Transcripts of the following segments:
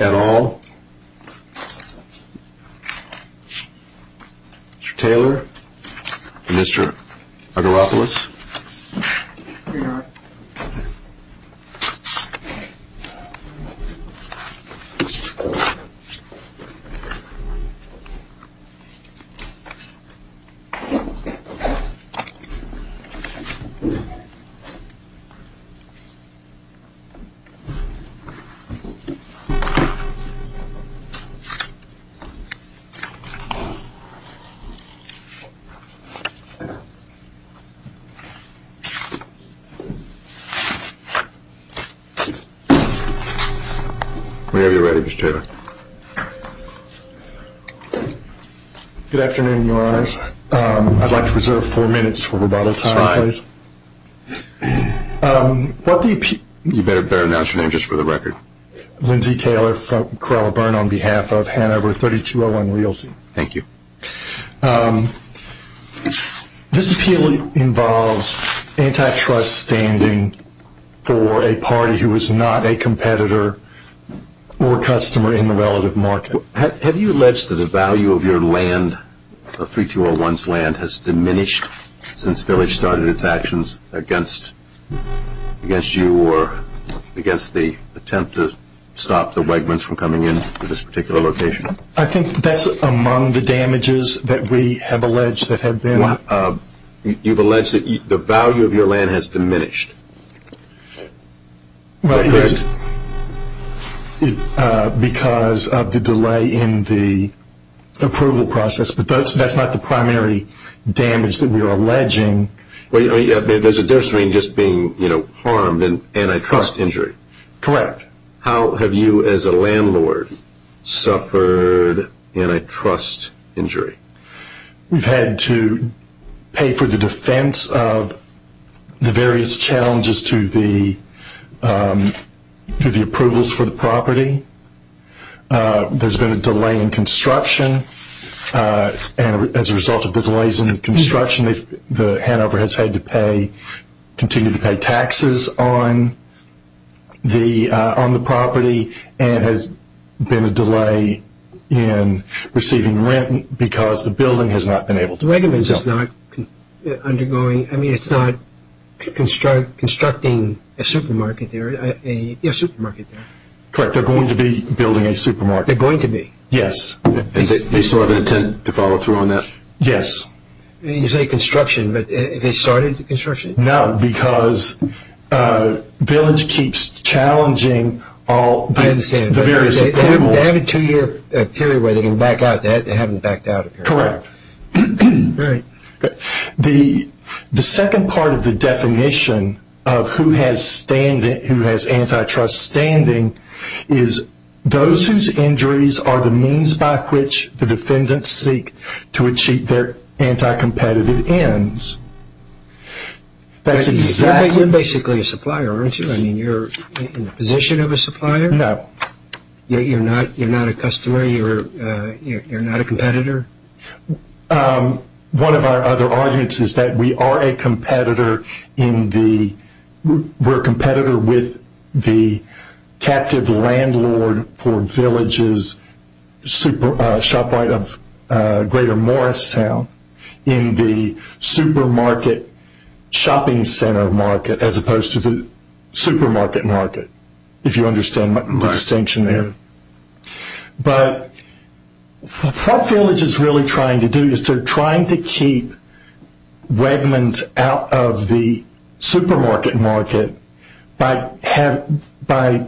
at all. Mr. Taylor and Mr. Agaropoulos. Here you are. Thanks. Whenever you're ready, Mr. Taylor. Good afternoon, your honors. I'd like to reserve four minutes for rebuttal time, please. That's fine. You better announce your name just for the record. Lindsey Taylor from Corolla Burn on behalf of Hanover3201Realty. Thank you. This appeal involves antitrust standing for a party who is not a competitor or customer in the relative market. Have you alleged that the value of your land, of 3201's land, has diminished since Village started its actions against you or against the attempt to stop the Wegmans from coming in to this particular location? I think that's among the damages that we have alleged that have been. You've alleged that the value of your land has diminished. Is that correct? Because of the delay in the approval process, but that's not the primary damage that we are alleging. There's a nursery just being harmed in antitrust injury. Correct. How have you as a landlord suffered antitrust injury? We've had to pay for the defense of the various challenges to the approvals for the property. There's been a delay in construction. As a result of the delays in construction, Hanover has had to continue to pay taxes on the property and has been a delay in receiving rent because the building has not been able to... The Wegmans is not undergoing, I mean it's not constructing a supermarket there. Correct, they're going to be building a supermarket. They're going to be? Yes. They still have an intent to follow through on that? Yes. You say construction, but have they started construction? No, because Village keeps challenging all the various approvals. They have a two-year period where they can back out. They haven't backed out a period. Correct. The second part of the definition of who has antitrust standing is those whose injuries are the means by which the defendants seek to achieve their anti-competitive ends. You're basically a supplier, aren't you? You're in the position of a supplier? No. You're not a customer? You're not a competitor? One of our other arguments is that we are a competitor in the... We're a competitor with the captive landlord for Village's shop right of greater Morristown in the supermarket shopping center market as opposed to the supermarket market, if you understand my distinction there. But what Village is really trying to do is they're trying to keep Wegmans out of the supermarket market by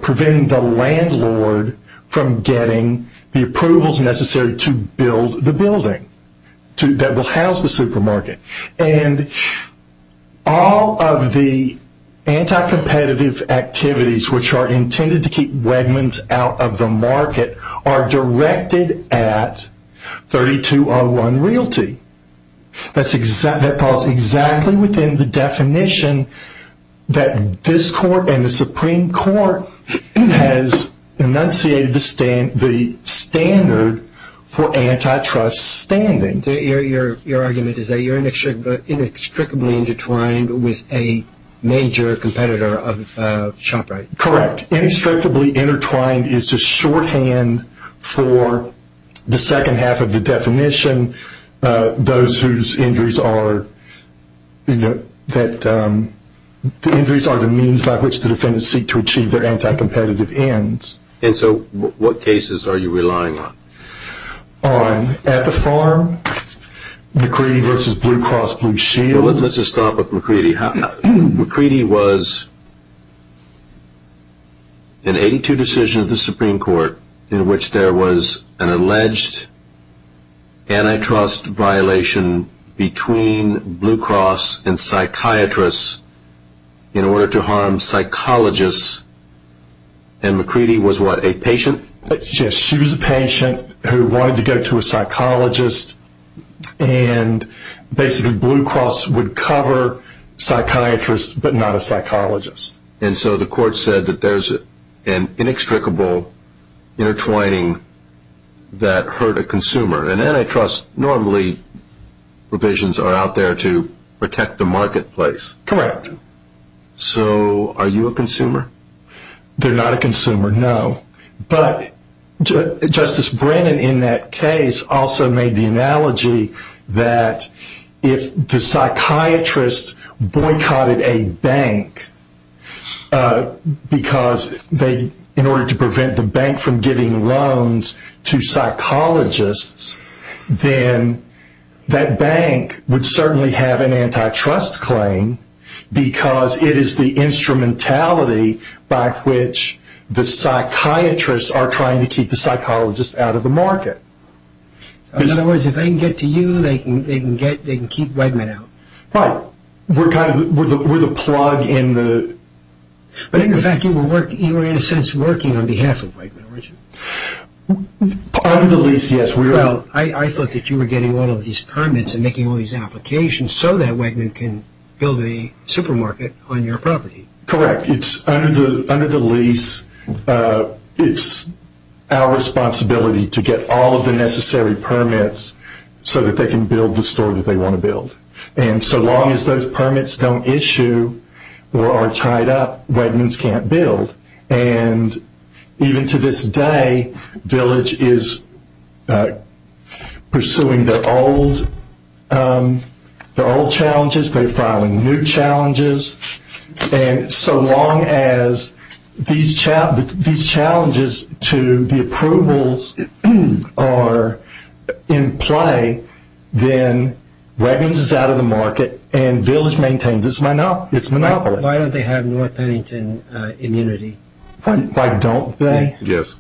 preventing the landlord from getting the approvals necessary to build the building that will house the supermarket. And all of the anti-competitive activities which are intended to keep Wegmans out of the market are directed at 3201 Realty. That falls exactly within the definition that this court and the Supreme Court has enunciated the standard for antitrust standing. Your argument is that you're inextricably intertwined with a major competitor of a shop right? Correct. Inextricably intertwined is a shorthand for the second half of the definition, those whose injuries are the means by which the defendants seek to achieve their anti-competitive ends. And so what cases are you relying on? At the farm, McCready v. Blue Cross Blue Shield. Let's just start with McCready. McCready was an 82 decision of the Supreme Court in which there was an alleged antitrust violation between Blue Cross and psychiatrists in order to harm psychologists. And McCready was what, a patient? Yes, she was a patient who wanted to go to a psychologist and basically Blue Cross would cover psychiatrists but not a psychologist. And so the court said that there's an inextricable intertwining that hurt a consumer. And antitrust normally provisions are out there to protect the marketplace. Correct. So are you a consumer? They're not a consumer, no. But Justice Brennan in that case also made the analogy that if the psychiatrist boycotted a bank because in order to prevent the bank from giving loans to psychologists, then that bank would certainly have an antitrust claim because it is the instrumentality by which the psychiatrists are trying to keep the psychologists out of the market. In other words, if they can get to you, they can keep Wegman out. Right. We're the plug in the... But in fact you were in a sense working on behalf of Wegman, weren't you? Part of the lease, yes. Well, I thought that you were getting all of these permits and making all these applications so that Wegman can build a supermarket on your property. Correct. Under the lease, it's our responsibility to get all of the necessary permits so that they can build the store that they want to build. And so long as those permits don't issue or are tied up, Wegmans can't build. And even to this day, Village is pursuing their old challenges. They're filing new challenges. And so long as these challenges to the approvals are in play, then Wegmans is out of the market and Village maintains its monopoly. Why don't they have North Pennington immunity? Why don't they? Yes.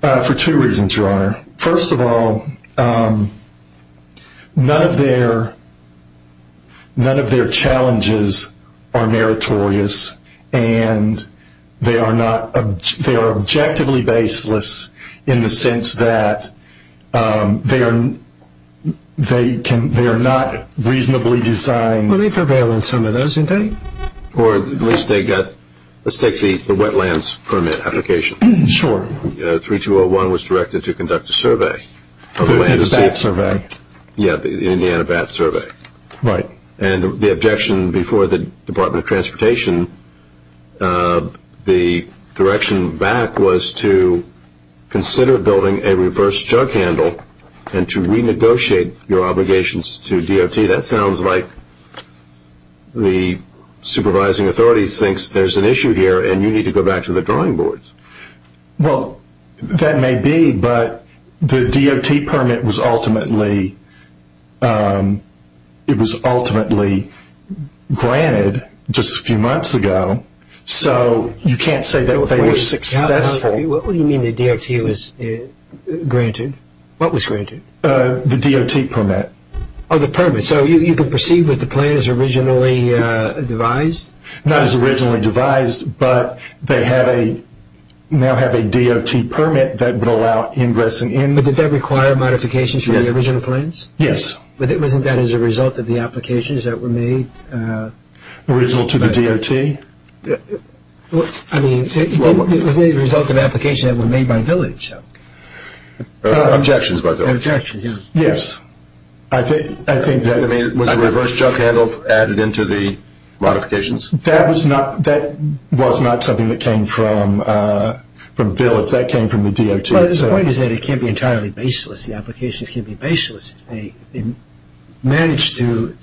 For two reasons, Your Honor. First of all, none of their challenges are meritorious, and they are objectively baseless in the sense that they are not reasonably designed. Well, they prevail on some of those, don't they? Or at least they got – let's take the wetlands permit application. Sure. 3201 was directed to conduct a survey. A BAT survey. Yes, the Indiana BAT survey. Right. And the objection before the Department of Transportation, the direction back was to consider building a reverse jug handle and to renegotiate your obligations to DOT. Gee, that sounds like the supervising authority thinks there's an issue here and you need to go back to the drawing boards. Well, that may be, but the DOT permit was ultimately granted just a few months ago, so you can't say that they were successful. What do you mean the DOT was granted? What was granted? The DOT permit. Oh, the permit. So you can proceed with the plan as originally devised? Not as originally devised, but they now have a DOT permit that would allow ingressing in. But did that require modifications from the original plans? Yes. But wasn't that as a result of the applications that were made? Original to the DOT? I mean, it was a result of applications that were made by Village. Objections by Village. Objections, yes. I mean, was a reverse jug handle added into the modifications? That was not something that came from Village. That came from the DOT itself. But the point is that it can't be entirely baseless. The applications can't be baseless if they manage to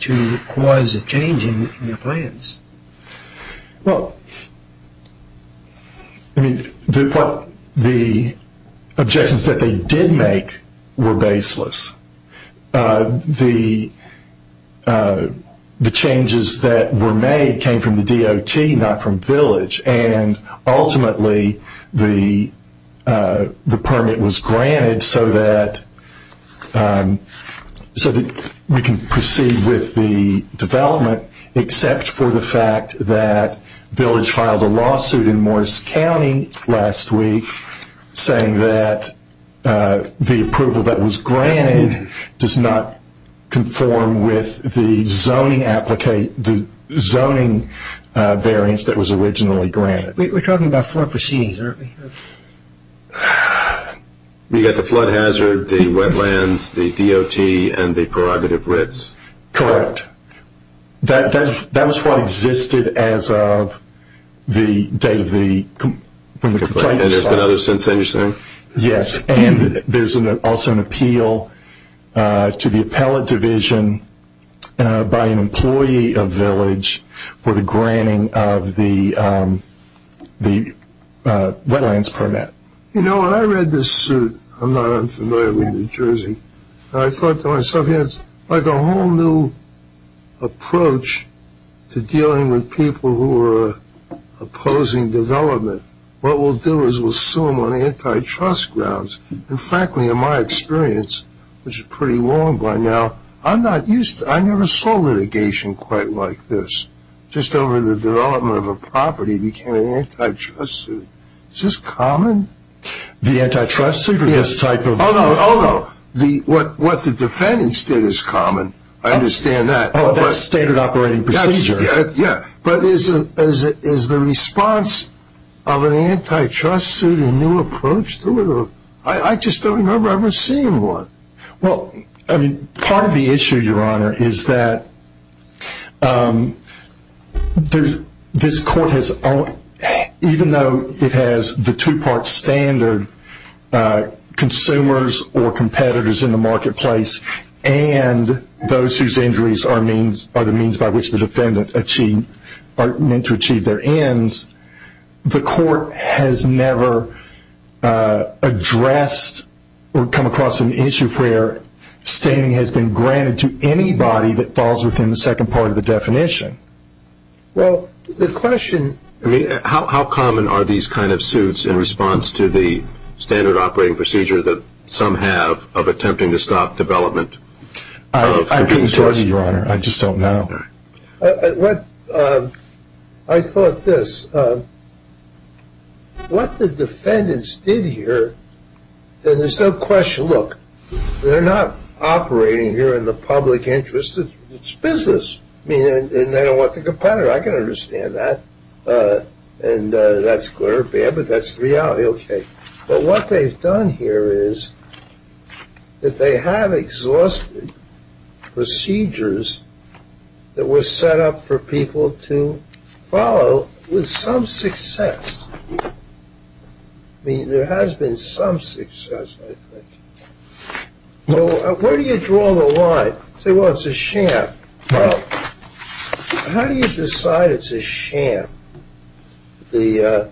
cause a change in the plans. Well, I mean, the objections that they did make were baseless. The changes that were made came from the DOT, not from Village, and ultimately the permit was granted so that we can proceed with the development except for the fact that Village filed a lawsuit in Morris County last week saying that the approval that was granted does not conform with the zoning variance that was originally granted. We're talking about four proceedings, aren't we? We've got the flood hazard, the wetlands, the DOT, and the prerogative RITs. Correct. That was what existed as of the date of the complaint. And there's been other since then, you're saying? Yes, and there's also an appeal to the appellate division by an employee of Village for the granting of the wetlands permit. You know, when I read this suit, I'm not unfamiliar with New Jersey, and I thought to myself, it's like a whole new approach to dealing with people who are opposing development. What we'll do is we'll sue them on antitrust grounds. And frankly, in my experience, which is pretty long by now, I never saw litigation quite like this. Just over the development of a property became an antitrust suit. Is this common? The antitrust suit or this type of? Oh, no. What the defendants did is common. I understand that. Oh, that's standard operating procedure. Yeah. But is the response of an antitrust suit a new approach to it? I just don't remember ever seeing one. Well, I mean, part of the issue, Your Honor, is that this court has only, even though it has the two-part standard, consumers or competitors in the marketplace and those whose injuries are the means by which the defendant are meant to achieve their ends, the court has never addressed or come across an issue where standing has been granted to anybody that falls within the second part of the definition. Well, the question. I mean, how common are these kind of suits in response to the standard operating procedure that some have of attempting to stop development? I couldn't tell you, Your Honor. I just don't know. I thought this. What the defendants did here, and there's no question. Look, they're not operating here in the public interest. It's business, and they don't want the competitor. I can understand that, and that's good or bad, but that's the reality. Okay. But what they've done here is that they have exhausted procedures that were set up for people to follow with some success. I mean, there has been some success, I think. So where do you draw the line? I say, well, it's a sham. Well, how do you decide it's a sham, the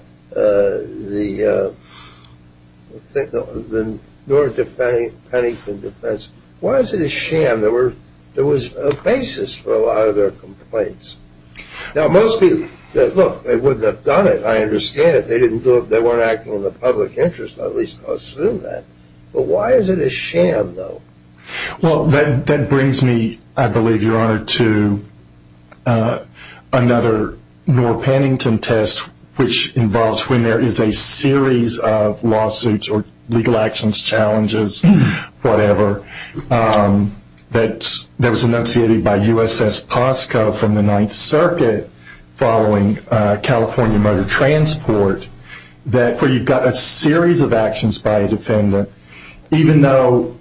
North Pennington defense? Why is it a sham? There was a basis for a lot of their complaints. Now, most people, look, they wouldn't have done it. I understand it. They weren't acting in the public interest. I'll at least assume that. But why is it a sham, though? Well, that brings me, I believe, Your Honor, to another North Pennington test, which involves when there is a series of lawsuits or legal actions, challenges, whatever, that was enunciated by USS Posco from the Ninth Circuit following California motor transport, where you've got a series of actions by a defendant. Even though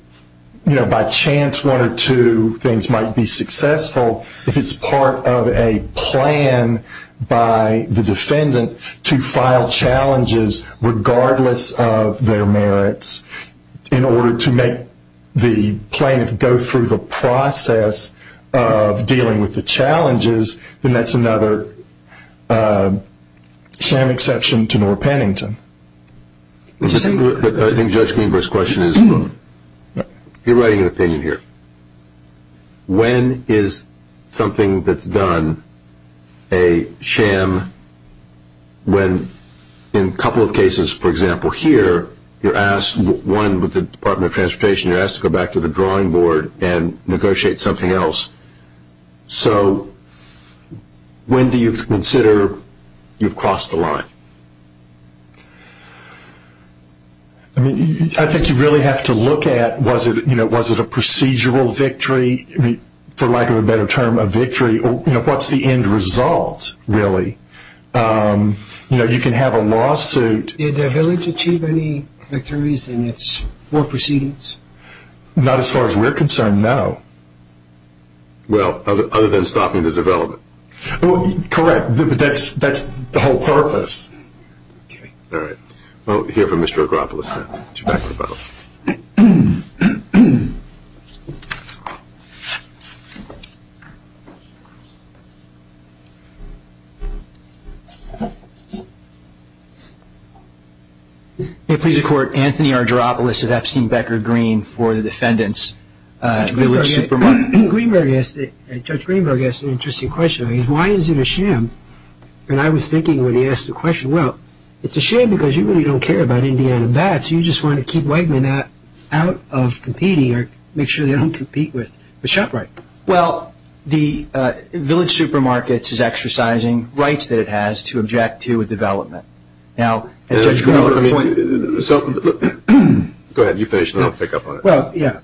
by chance one or two things might be successful, if it's part of a plan by the defendant to file challenges regardless of their merits in order to make the plaintiff go through the process of dealing with the challenges, then that's another sham exception to North Pennington. But I think Judge Greenberg's question is, look, you're writing an opinion here. When is something that's done a sham when, in a couple of cases, for example, here, you're asked, one, with the Department of Transportation, you're asked to go back to the drawing board and negotiate something else. So when do you consider you've crossed the line? I think you really have to look at, was it a procedural victory? For lack of a better term, a victory. What's the end result, really? You can have a lawsuit. Did the village achieve any victories in its war proceedings? Not as far as we're concerned, no. Well, other than stopping the development? Correct. That's the whole purpose. All right. We'll hear from Mr. Argyropoulos then. Get you back to the panel. May it please the Court, Anthony Argyropoulos of Epstein Becker Green for the defendants, Village Supermarkets. Judge Greenberg asked an interesting question. Why is it a sham? And I was thinking when he asked the question, well, it's a sham because you really don't care about Indiana vets. You just want to keep Wegman out of competing or make sure they don't compete with the shop right. Well, the Village Supermarkets is exercising rights that it has to object to a development. Now, as Judge Greenberg pointed out. Go ahead. You finish and then I'll pick up on it. Well, yeah,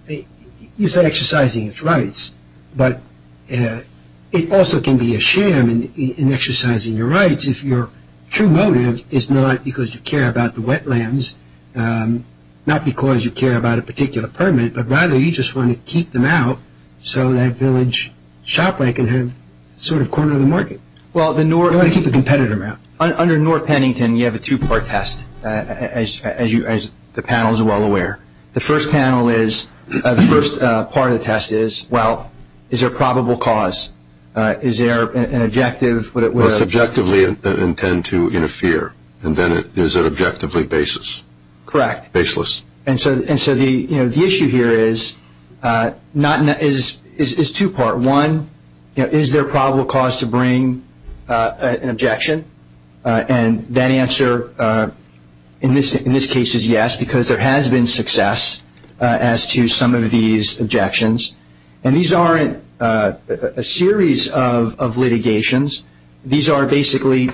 you say exercising its rights, but it also can be a sham in exercising your rights if your true motive is not because you care about the wetlands, not because you care about a particular permit, but rather you just want to keep them out so that Village Shop Right can have sort of corner of the market. You want to keep the competitor out. Under North Pennington, you have a two-part test, as the panel is well aware. The first part of the test is, well, is there a probable cause? Is there an objective? Well, subjectively intend to interfere, and then is it objectively baseless? Correct. And so the issue here is two-part. One, is there a probable cause to bring an objection? And that answer in this case is yes because there has been success as to some of these objections. And these aren't a series of litigations. These are basically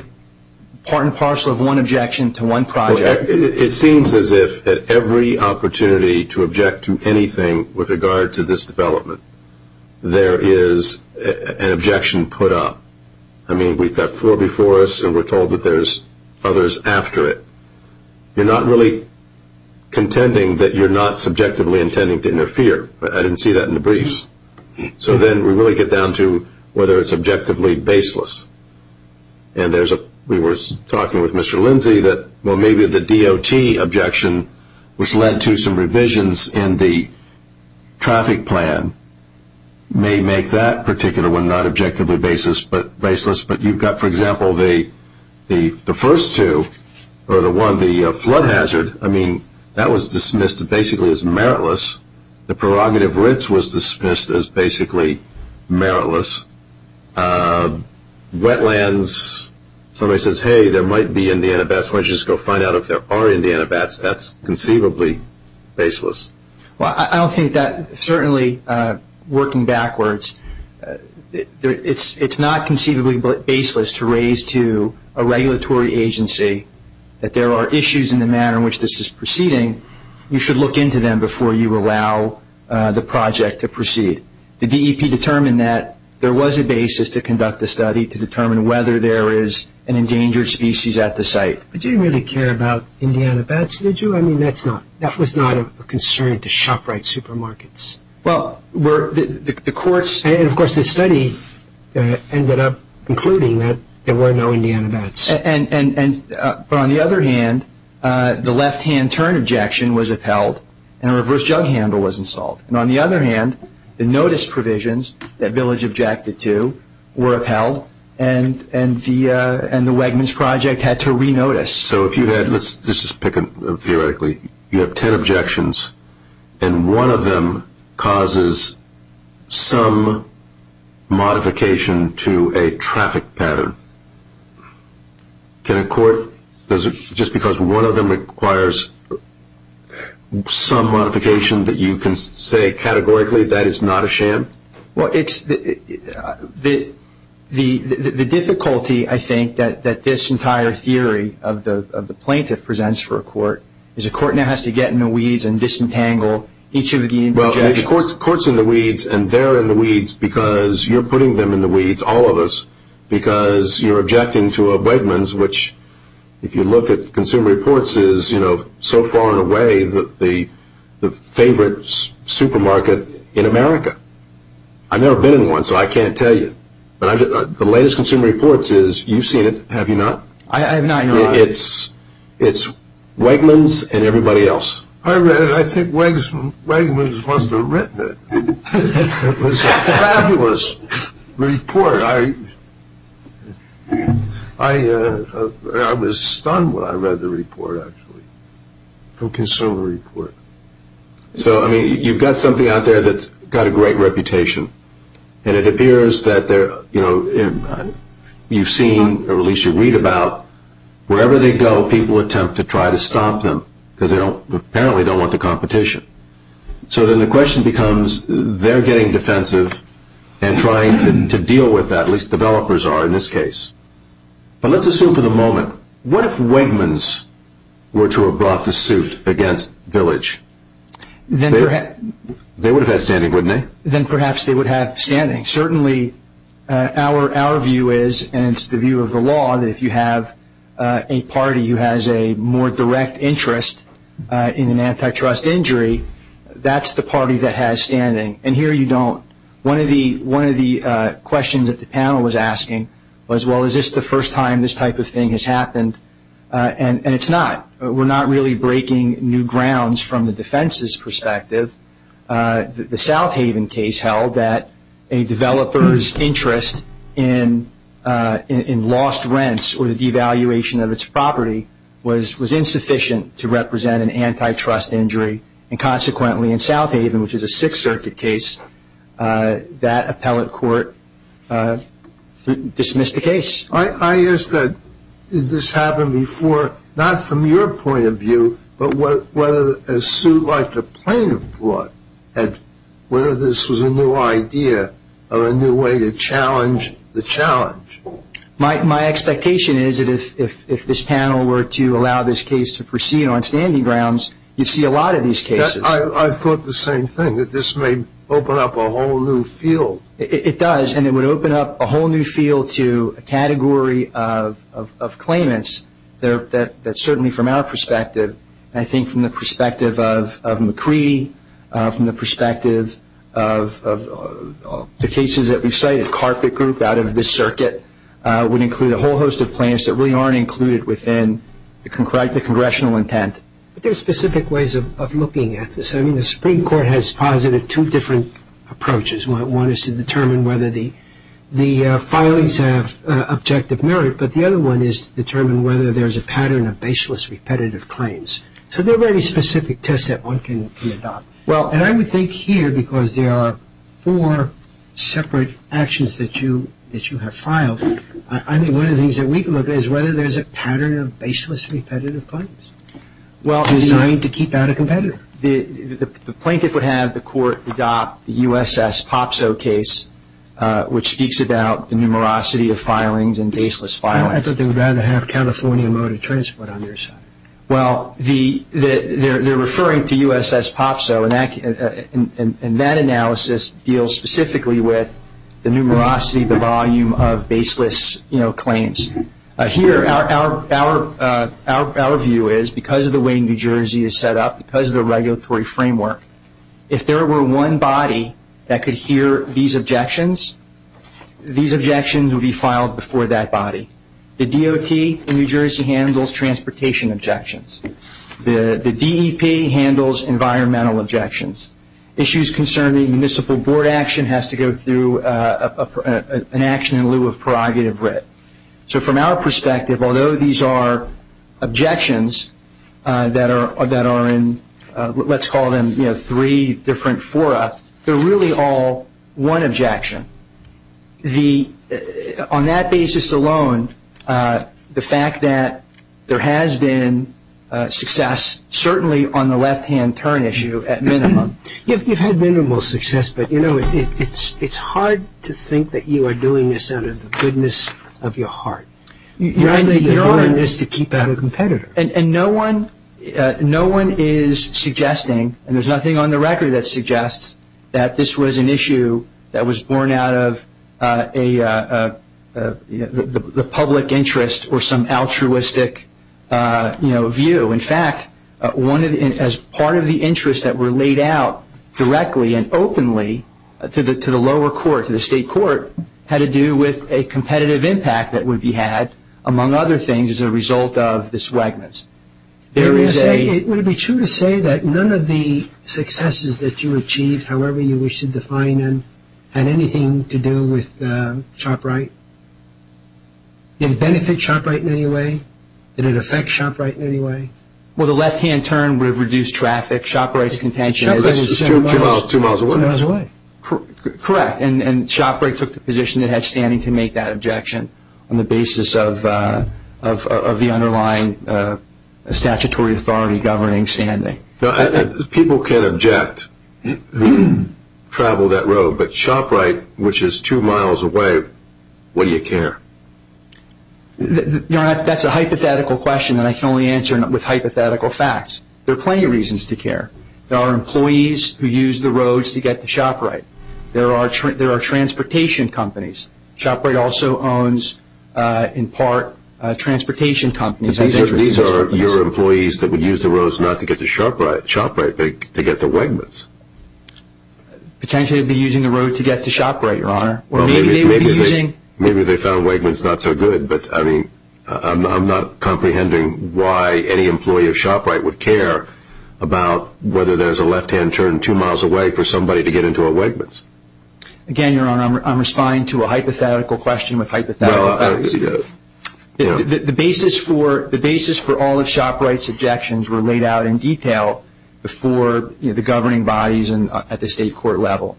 part and parcel of one objection to one project. It seems as if at every opportunity to object to anything with regard to this development, there is an objection put up. I mean, we've got four before us, and we're told that there's others after it. You're not really contending that you're not subjectively intending to interfere. I didn't see that in the briefs. So then we really get down to whether it's objectively baseless. And we were talking with Mr. Lindsay that, well, maybe the DOT objection, which led to some revisions in the traffic plan, may make that particular one not objectively baseless. But you've got, for example, the first two, or the one, the flood hazard. I mean, that was dismissed basically as meritless. The prerogative rinse was dismissed as basically meritless. Wetlands, somebody says, hey, there might be Indiana bats. Why don't you just go find out if there are Indiana bats. That's conceivably baseless. Well, I don't think that, certainly working backwards, it's not conceivably baseless to raise to a regulatory agency that there are issues in the manner in which this is proceeding. You should look into them before you allow the project to proceed. The DEP determined that there was a basis to conduct the study to determine whether there is an endangered species at the site. But you didn't really care about Indiana bats, did you? No, I mean, that was not a concern to shop-right supermarkets. And, of course, the study ended up concluding that there were no Indiana bats. But on the other hand, the left-hand turn objection was upheld and a reverse jug handle was installed. And on the other hand, the notice provisions that Village objected to were upheld and the Wegmans Project had to re-notice. So if you had, let's just pick them theoretically, you have ten objections and one of them causes some modification to a traffic pattern. Can a court, just because one of them requires some modification that you can say categorically that is not a sham? Well, it's the difficulty, I think, that this entire theory of the plaintiff presents for a court is a court now has to get in the weeds and disentangle each of the interjections. Well, the court's in the weeds and they're in the weeds because you're putting them in the weeds, all of us, because you're objecting to a Wegmans, which, if you look at Consumer Reports, Consumer Reports is, you know, so far and away the favorite supermarket in America. I've never been in one, so I can't tell you. But the latest Consumer Reports is, you've seen it, have you not? I have not, no. It's Wegmans and everybody else. I read it. I think Wegmans must have written it. It was a fabulous report. I was stunned when I read the report, actually, from Consumer Reports. So, I mean, you've got something out there that's got a great reputation, and it appears that you've seen, or at least you read about, wherever they go, people attempt to try to stop them because they apparently don't want the competition. So then the question becomes, they're getting defensive and trying to deal with that, at least developers are in this case. But let's assume for the moment, what if Wegmans were to have brought the suit against Village? They would have had standing, wouldn't they? Then perhaps they would have standing. Certainly, our view is, and it's the view of the law, that if you have a party who has a more direct interest in an antitrust injury, that's the party that has standing. And here you don't. One of the questions that the panel was asking was, well, is this the first time this type of thing has happened? And it's not. We're not really breaking new grounds from the defense's perspective. The South Haven case held that a developer's interest in lost rents or the devaluation of its property was insufficient to represent an antitrust injury, and consequently in South Haven, which is a Sixth Circuit case, that appellate court dismissed the case. I ask that this happen before, not from your point of view, but whether a suit like the plaintiff brought, whether this was a new idea or a new way to challenge the challenge. My expectation is that if this panel were to allow this case to proceed on standing grounds, you'd see a lot of these cases. I thought the same thing, that this may open up a whole new field. It does, and it would open up a whole new field to a category of claimants that certainly from our perspective, I think from the perspective of McCree, from the perspective of the cases that we've cited, carpet group out of this circuit would include a whole host of plaintiffs that really aren't included within the congressional intent. But there are specific ways of looking at this. I mean, the Supreme Court has posited two different approaches. One is to determine whether the filings have objective merit, but the other one is to determine whether there's a pattern of baseless repetitive claims. So there are very specific tests that one can adopt. And I would think here, because there are four separate actions that you have filed, I think one of the things that we can look at is whether there's a pattern of baseless repetitive claims designed to keep out a competitor. The plaintiff would have the court adopt the USS Popso case, which speaks about the numerosity of filings and baseless filings. I thought they would rather have California Motor Transport on their side. Well, they're referring to USS Popso, and that analysis deals specifically with the numerosity, the volume of baseless claims. Here, our view is because of the way New Jersey is set up, because of the regulatory framework, if there were one body that could hear these objections, these objections would be filed before that body. The DOT in New Jersey handles transportation objections. The DEP handles environmental objections. Issues concerning municipal board action has to go through an action in lieu of prerogative writ. So from our perspective, although these are objections that are in, let's call them three different fora, they're really all one objection. On that basis alone, the fact that there has been success, certainly on the left-hand turn issue, at minimum. You've had minimal success, but it's hard to think that you are doing this out of the goodness of your heart. You're doing this to keep out a competitor. And no one is suggesting, and there's nothing on the record that suggests, that this was an issue that was born out of the public interest or some altruistic view. In fact, as part of the interest that were laid out directly and openly to the lower court, to the state court, had to do with a competitive impact that would be had, among other things, as a result of the swagments. Would it be true to say that none of the successes that you achieved, however you wish to define them, had anything to do with shop right? Did it benefit shop right in any way? Did it affect shop right in any way? Well, the left-hand turn would have reduced traffic. Shop right's contention is two miles away. Correct, and shop right took the position it had standing to make that objection on the basis of the underlying statutory authority governing standing. People can object who travel that road, but shop right, which is two miles away, what do you care? That's a hypothetical question that I can only answer with hypothetical facts. There are plenty of reasons to care. There are employees who use the roads to get to shop right. There are transportation companies. Shop right also owns, in part, transportation companies. These are your employees that would use the roads not to get to shop right, but to get to swagments. Potentially they'd be using the road to get to shop right, Your Honor. Maybe they found swagments not so good, but I'm not comprehending why any employee of shop right would care about whether there's a left-hand turn two miles away for somebody to get into a swagments. Again, Your Honor, I'm responding to a hypothetical question with hypothetical facts. The basis for all of shop right's objections were laid out in detail before the governing bodies at the state court level.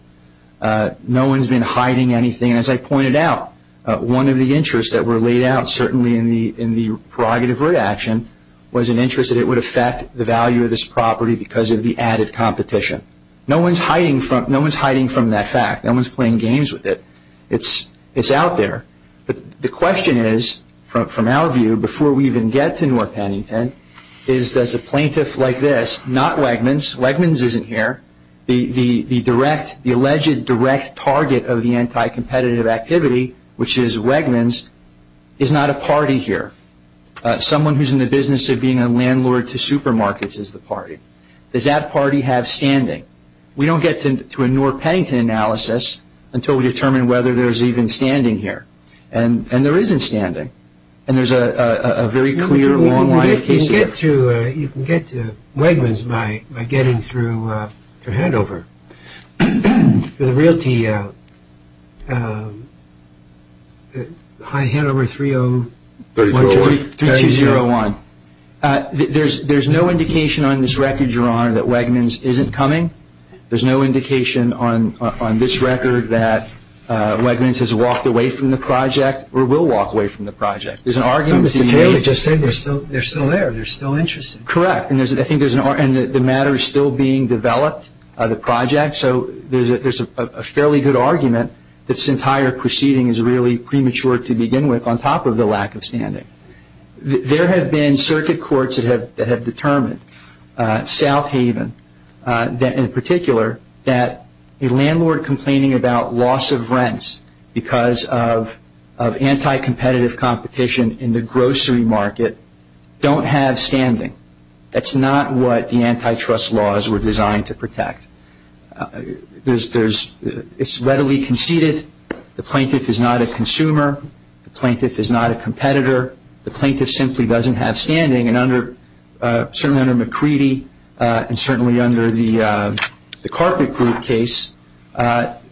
No one's been hiding anything. As I pointed out, one of the interests that were laid out, certainly in the prerogative reaction, was an interest that it would affect the value of this property because of the added competition. No one's hiding from that fact. No one's playing games with it. It's out there. But the question is, from our view, before we even get to North Pennington, is does a plaintiff like this, not swagments, swagments isn't here, the alleged direct target of the anti-competitive activity, which is swagments, is not a party here. Someone who's in the business of being a landlord to supermarkets is the party. Does that party have standing? We don't get to a North Pennington analysis until we determine whether there's even standing here. And there isn't standing. And there's a very clear, long line of cases there. You can get to Wegmans by getting through Handover. The realty, Handover 30- 3201. There's no indication on this record, Your Honor, that Wegmans isn't coming. There's no indication on this record that Wegmans has walked away from the project or will walk away from the project. There's an argument- Mr. Taylor just said they're still there. They're still interested. Correct. And I think there's an argument that the matter is still being developed, the project. So there's a fairly good argument that this entire proceeding is really premature to begin with, on top of the lack of standing. There have been circuit courts that have determined, South Haven in particular, that a landlord complaining about loss of rents because of anti-competitive competition in the grocery market don't have standing. That's not what the antitrust laws were designed to protect. It's readily conceded. The plaintiff is not a consumer. The plaintiff is not a competitor. The plaintiff simply doesn't have standing. And certainly under McCready and certainly under the carpet group case,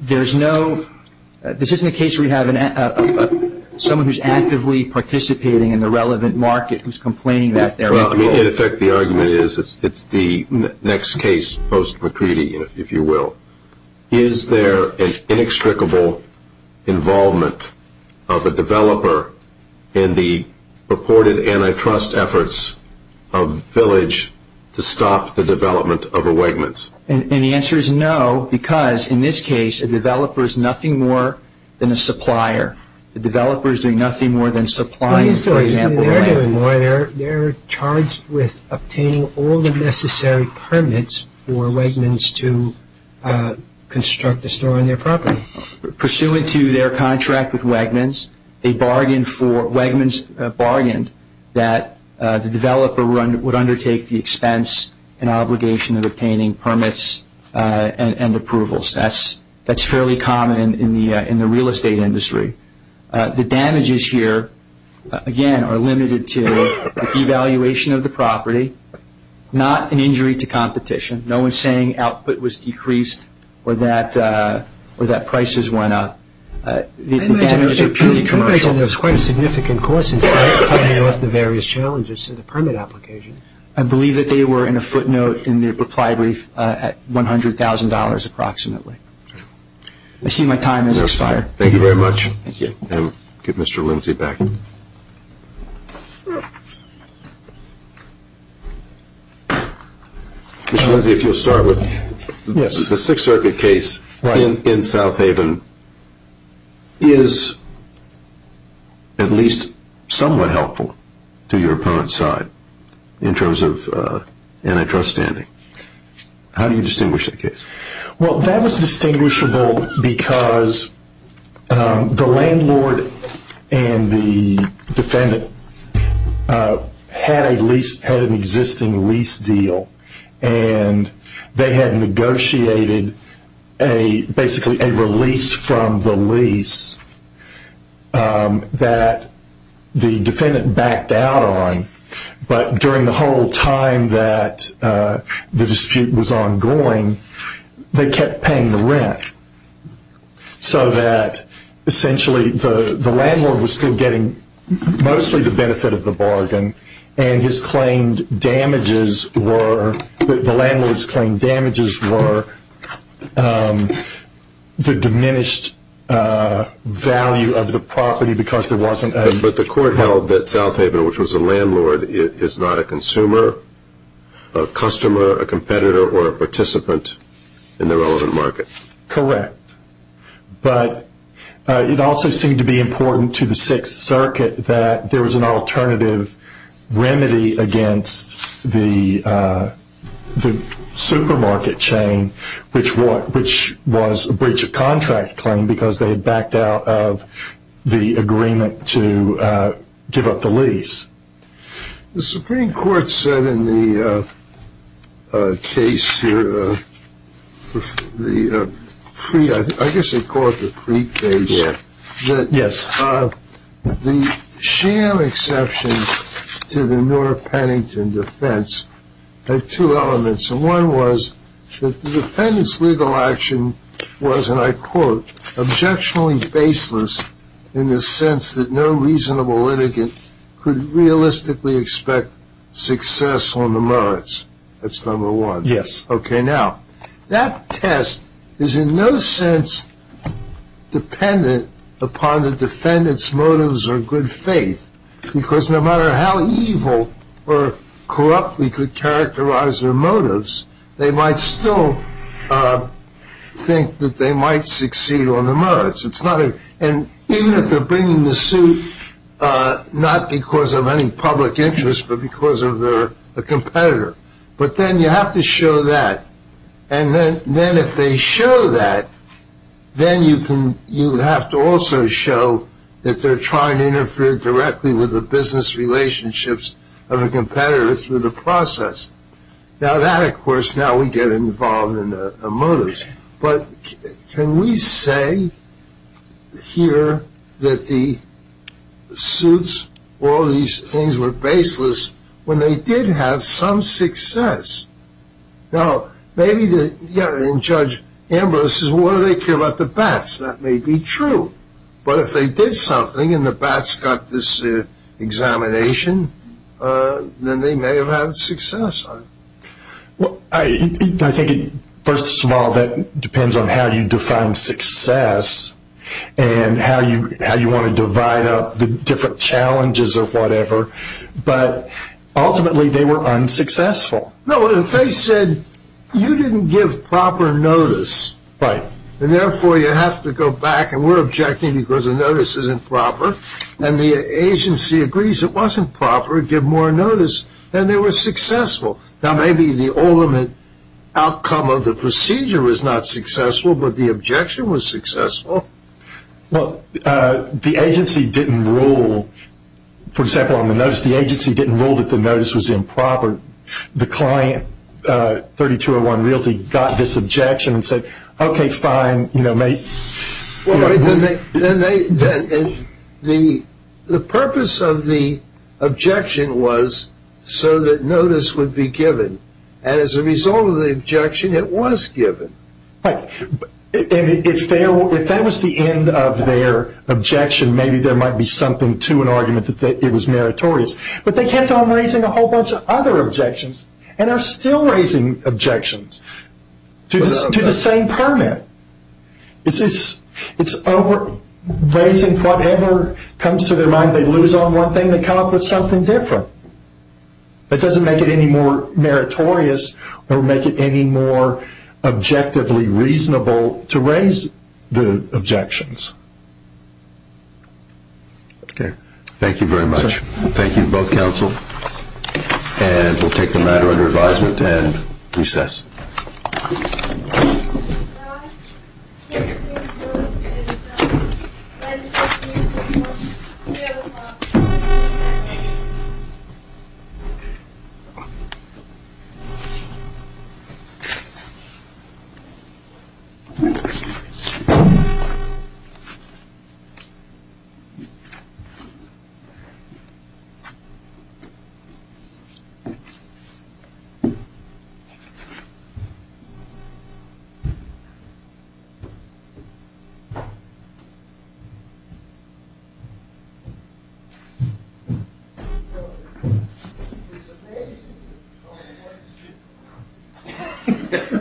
there's no- this isn't a case where you have someone who's actively participating in the relevant market who's complaining that they're- Well, I mean, in effect, the argument is it's the next case post-McCready, if you will. Is there an inextricable involvement of a developer in the purported antitrust efforts of Village to stop the development of a Wegmans? And the answer is no, because in this case, a developer is nothing more than a supplier. The developer is doing nothing more than supplying, for example- They're charged with obtaining all the necessary permits for Wegmans to construct a store on their property. Pursuant to their contract with Wegmans, they bargained for- Wegmans bargained that the developer would undertake the expense and obligation of obtaining permits and approvals. That's fairly common in the real estate industry. The damages here, again, are limited to the devaluation of the property, not an injury to competition. No one's saying output was decreased or that prices went up. The damages are purely commercial. I imagine there was quite a significant cost in signing off the various challenges to the permit application. I believe that they were in a footnote in the reply brief at $100,000 approximately. I see my time has expired. Thank you very much. Thank you. I'll give Mr. Lindsey back. Mr. Lindsey, if you'll start with- Yes. The Sixth Circuit case in South Haven is at least somewhat helpful to your opponent's side in terms of antitrust standing. How do you distinguish that case? Well, that was distinguishable because the landlord and the defendant had an existing lease deal, and they had negotiated basically a release from the lease that the defendant backed out on. But during the whole time that the dispute was ongoing, they kept paying the rent, so that essentially the landlord was still getting mostly the benefit of the bargain, and the landlord's claimed damages were the diminished value of the property because there wasn't- But the court held that South Haven, which was the landlord, is not a consumer, a customer, a competitor, or a participant in the relevant market. Correct. But it also seemed to be important to the Sixth Circuit that there was an alternative remedy against the supermarket chain, which was a breach of contract claim because they had backed out of the agreement to give up the lease. The Supreme Court said in the case here, the pre-I guess they call it the pre-case, that the sham exception to the Noor-Pennington defense had two elements. One was that the defendant's legal action was, and I quote, objectionably baseless in the sense that no reasonable litigant could realistically expect success on the merits. That's number one. Yes. Okay, now, that test is in no sense dependent upon the defendant's motives or good faith because no matter how evil or corrupt we could characterize their motives, they might still think that they might succeed on the merits. And even if they're bringing the suit not because of any public interest, but because of a competitor. But then you have to show that. And then if they show that, then you have to also show that they're trying to interfere directly with the business relationships of a competitor through the process. Now that, of course, now we get involved in the motives. But can we say here that the suits, all these things were baseless when they did have some success? No. Maybe Judge Ambrose says, well, what do they care about the bats? That may be true. But if they did something and the bats got this examination, then they may have had success on it. Well, I think first of all that depends on how you define success and how you want to divide up the different challenges or whatever. But ultimately they were unsuccessful. No, if they said you didn't give proper notice, and therefore you have to go back and we're objecting because the notice isn't proper, and the agency agrees it wasn't proper, give more notice, then they were successful. Now maybe the ultimate outcome of the procedure was not successful, but the objection was successful. Well, the agency didn't rule, for example, on the notice, the agency didn't rule that the notice was improper or the client, 3201 Realty, got this objection and said, okay, fine. The purpose of the objection was so that notice would be given, and as a result of the objection it was given. If that was the end of their objection, maybe there might be something to an argument that it was meritorious. But they kept on raising a whole bunch of other objections and are still raising objections to the same permit. It's raising whatever comes to their mind. They lose on one thing, they come up with something different. That doesn't make it any more meritorious Okay. Thank you very much. Thank you to both counsel. And we'll take the matter under advisement and recess. Thank you.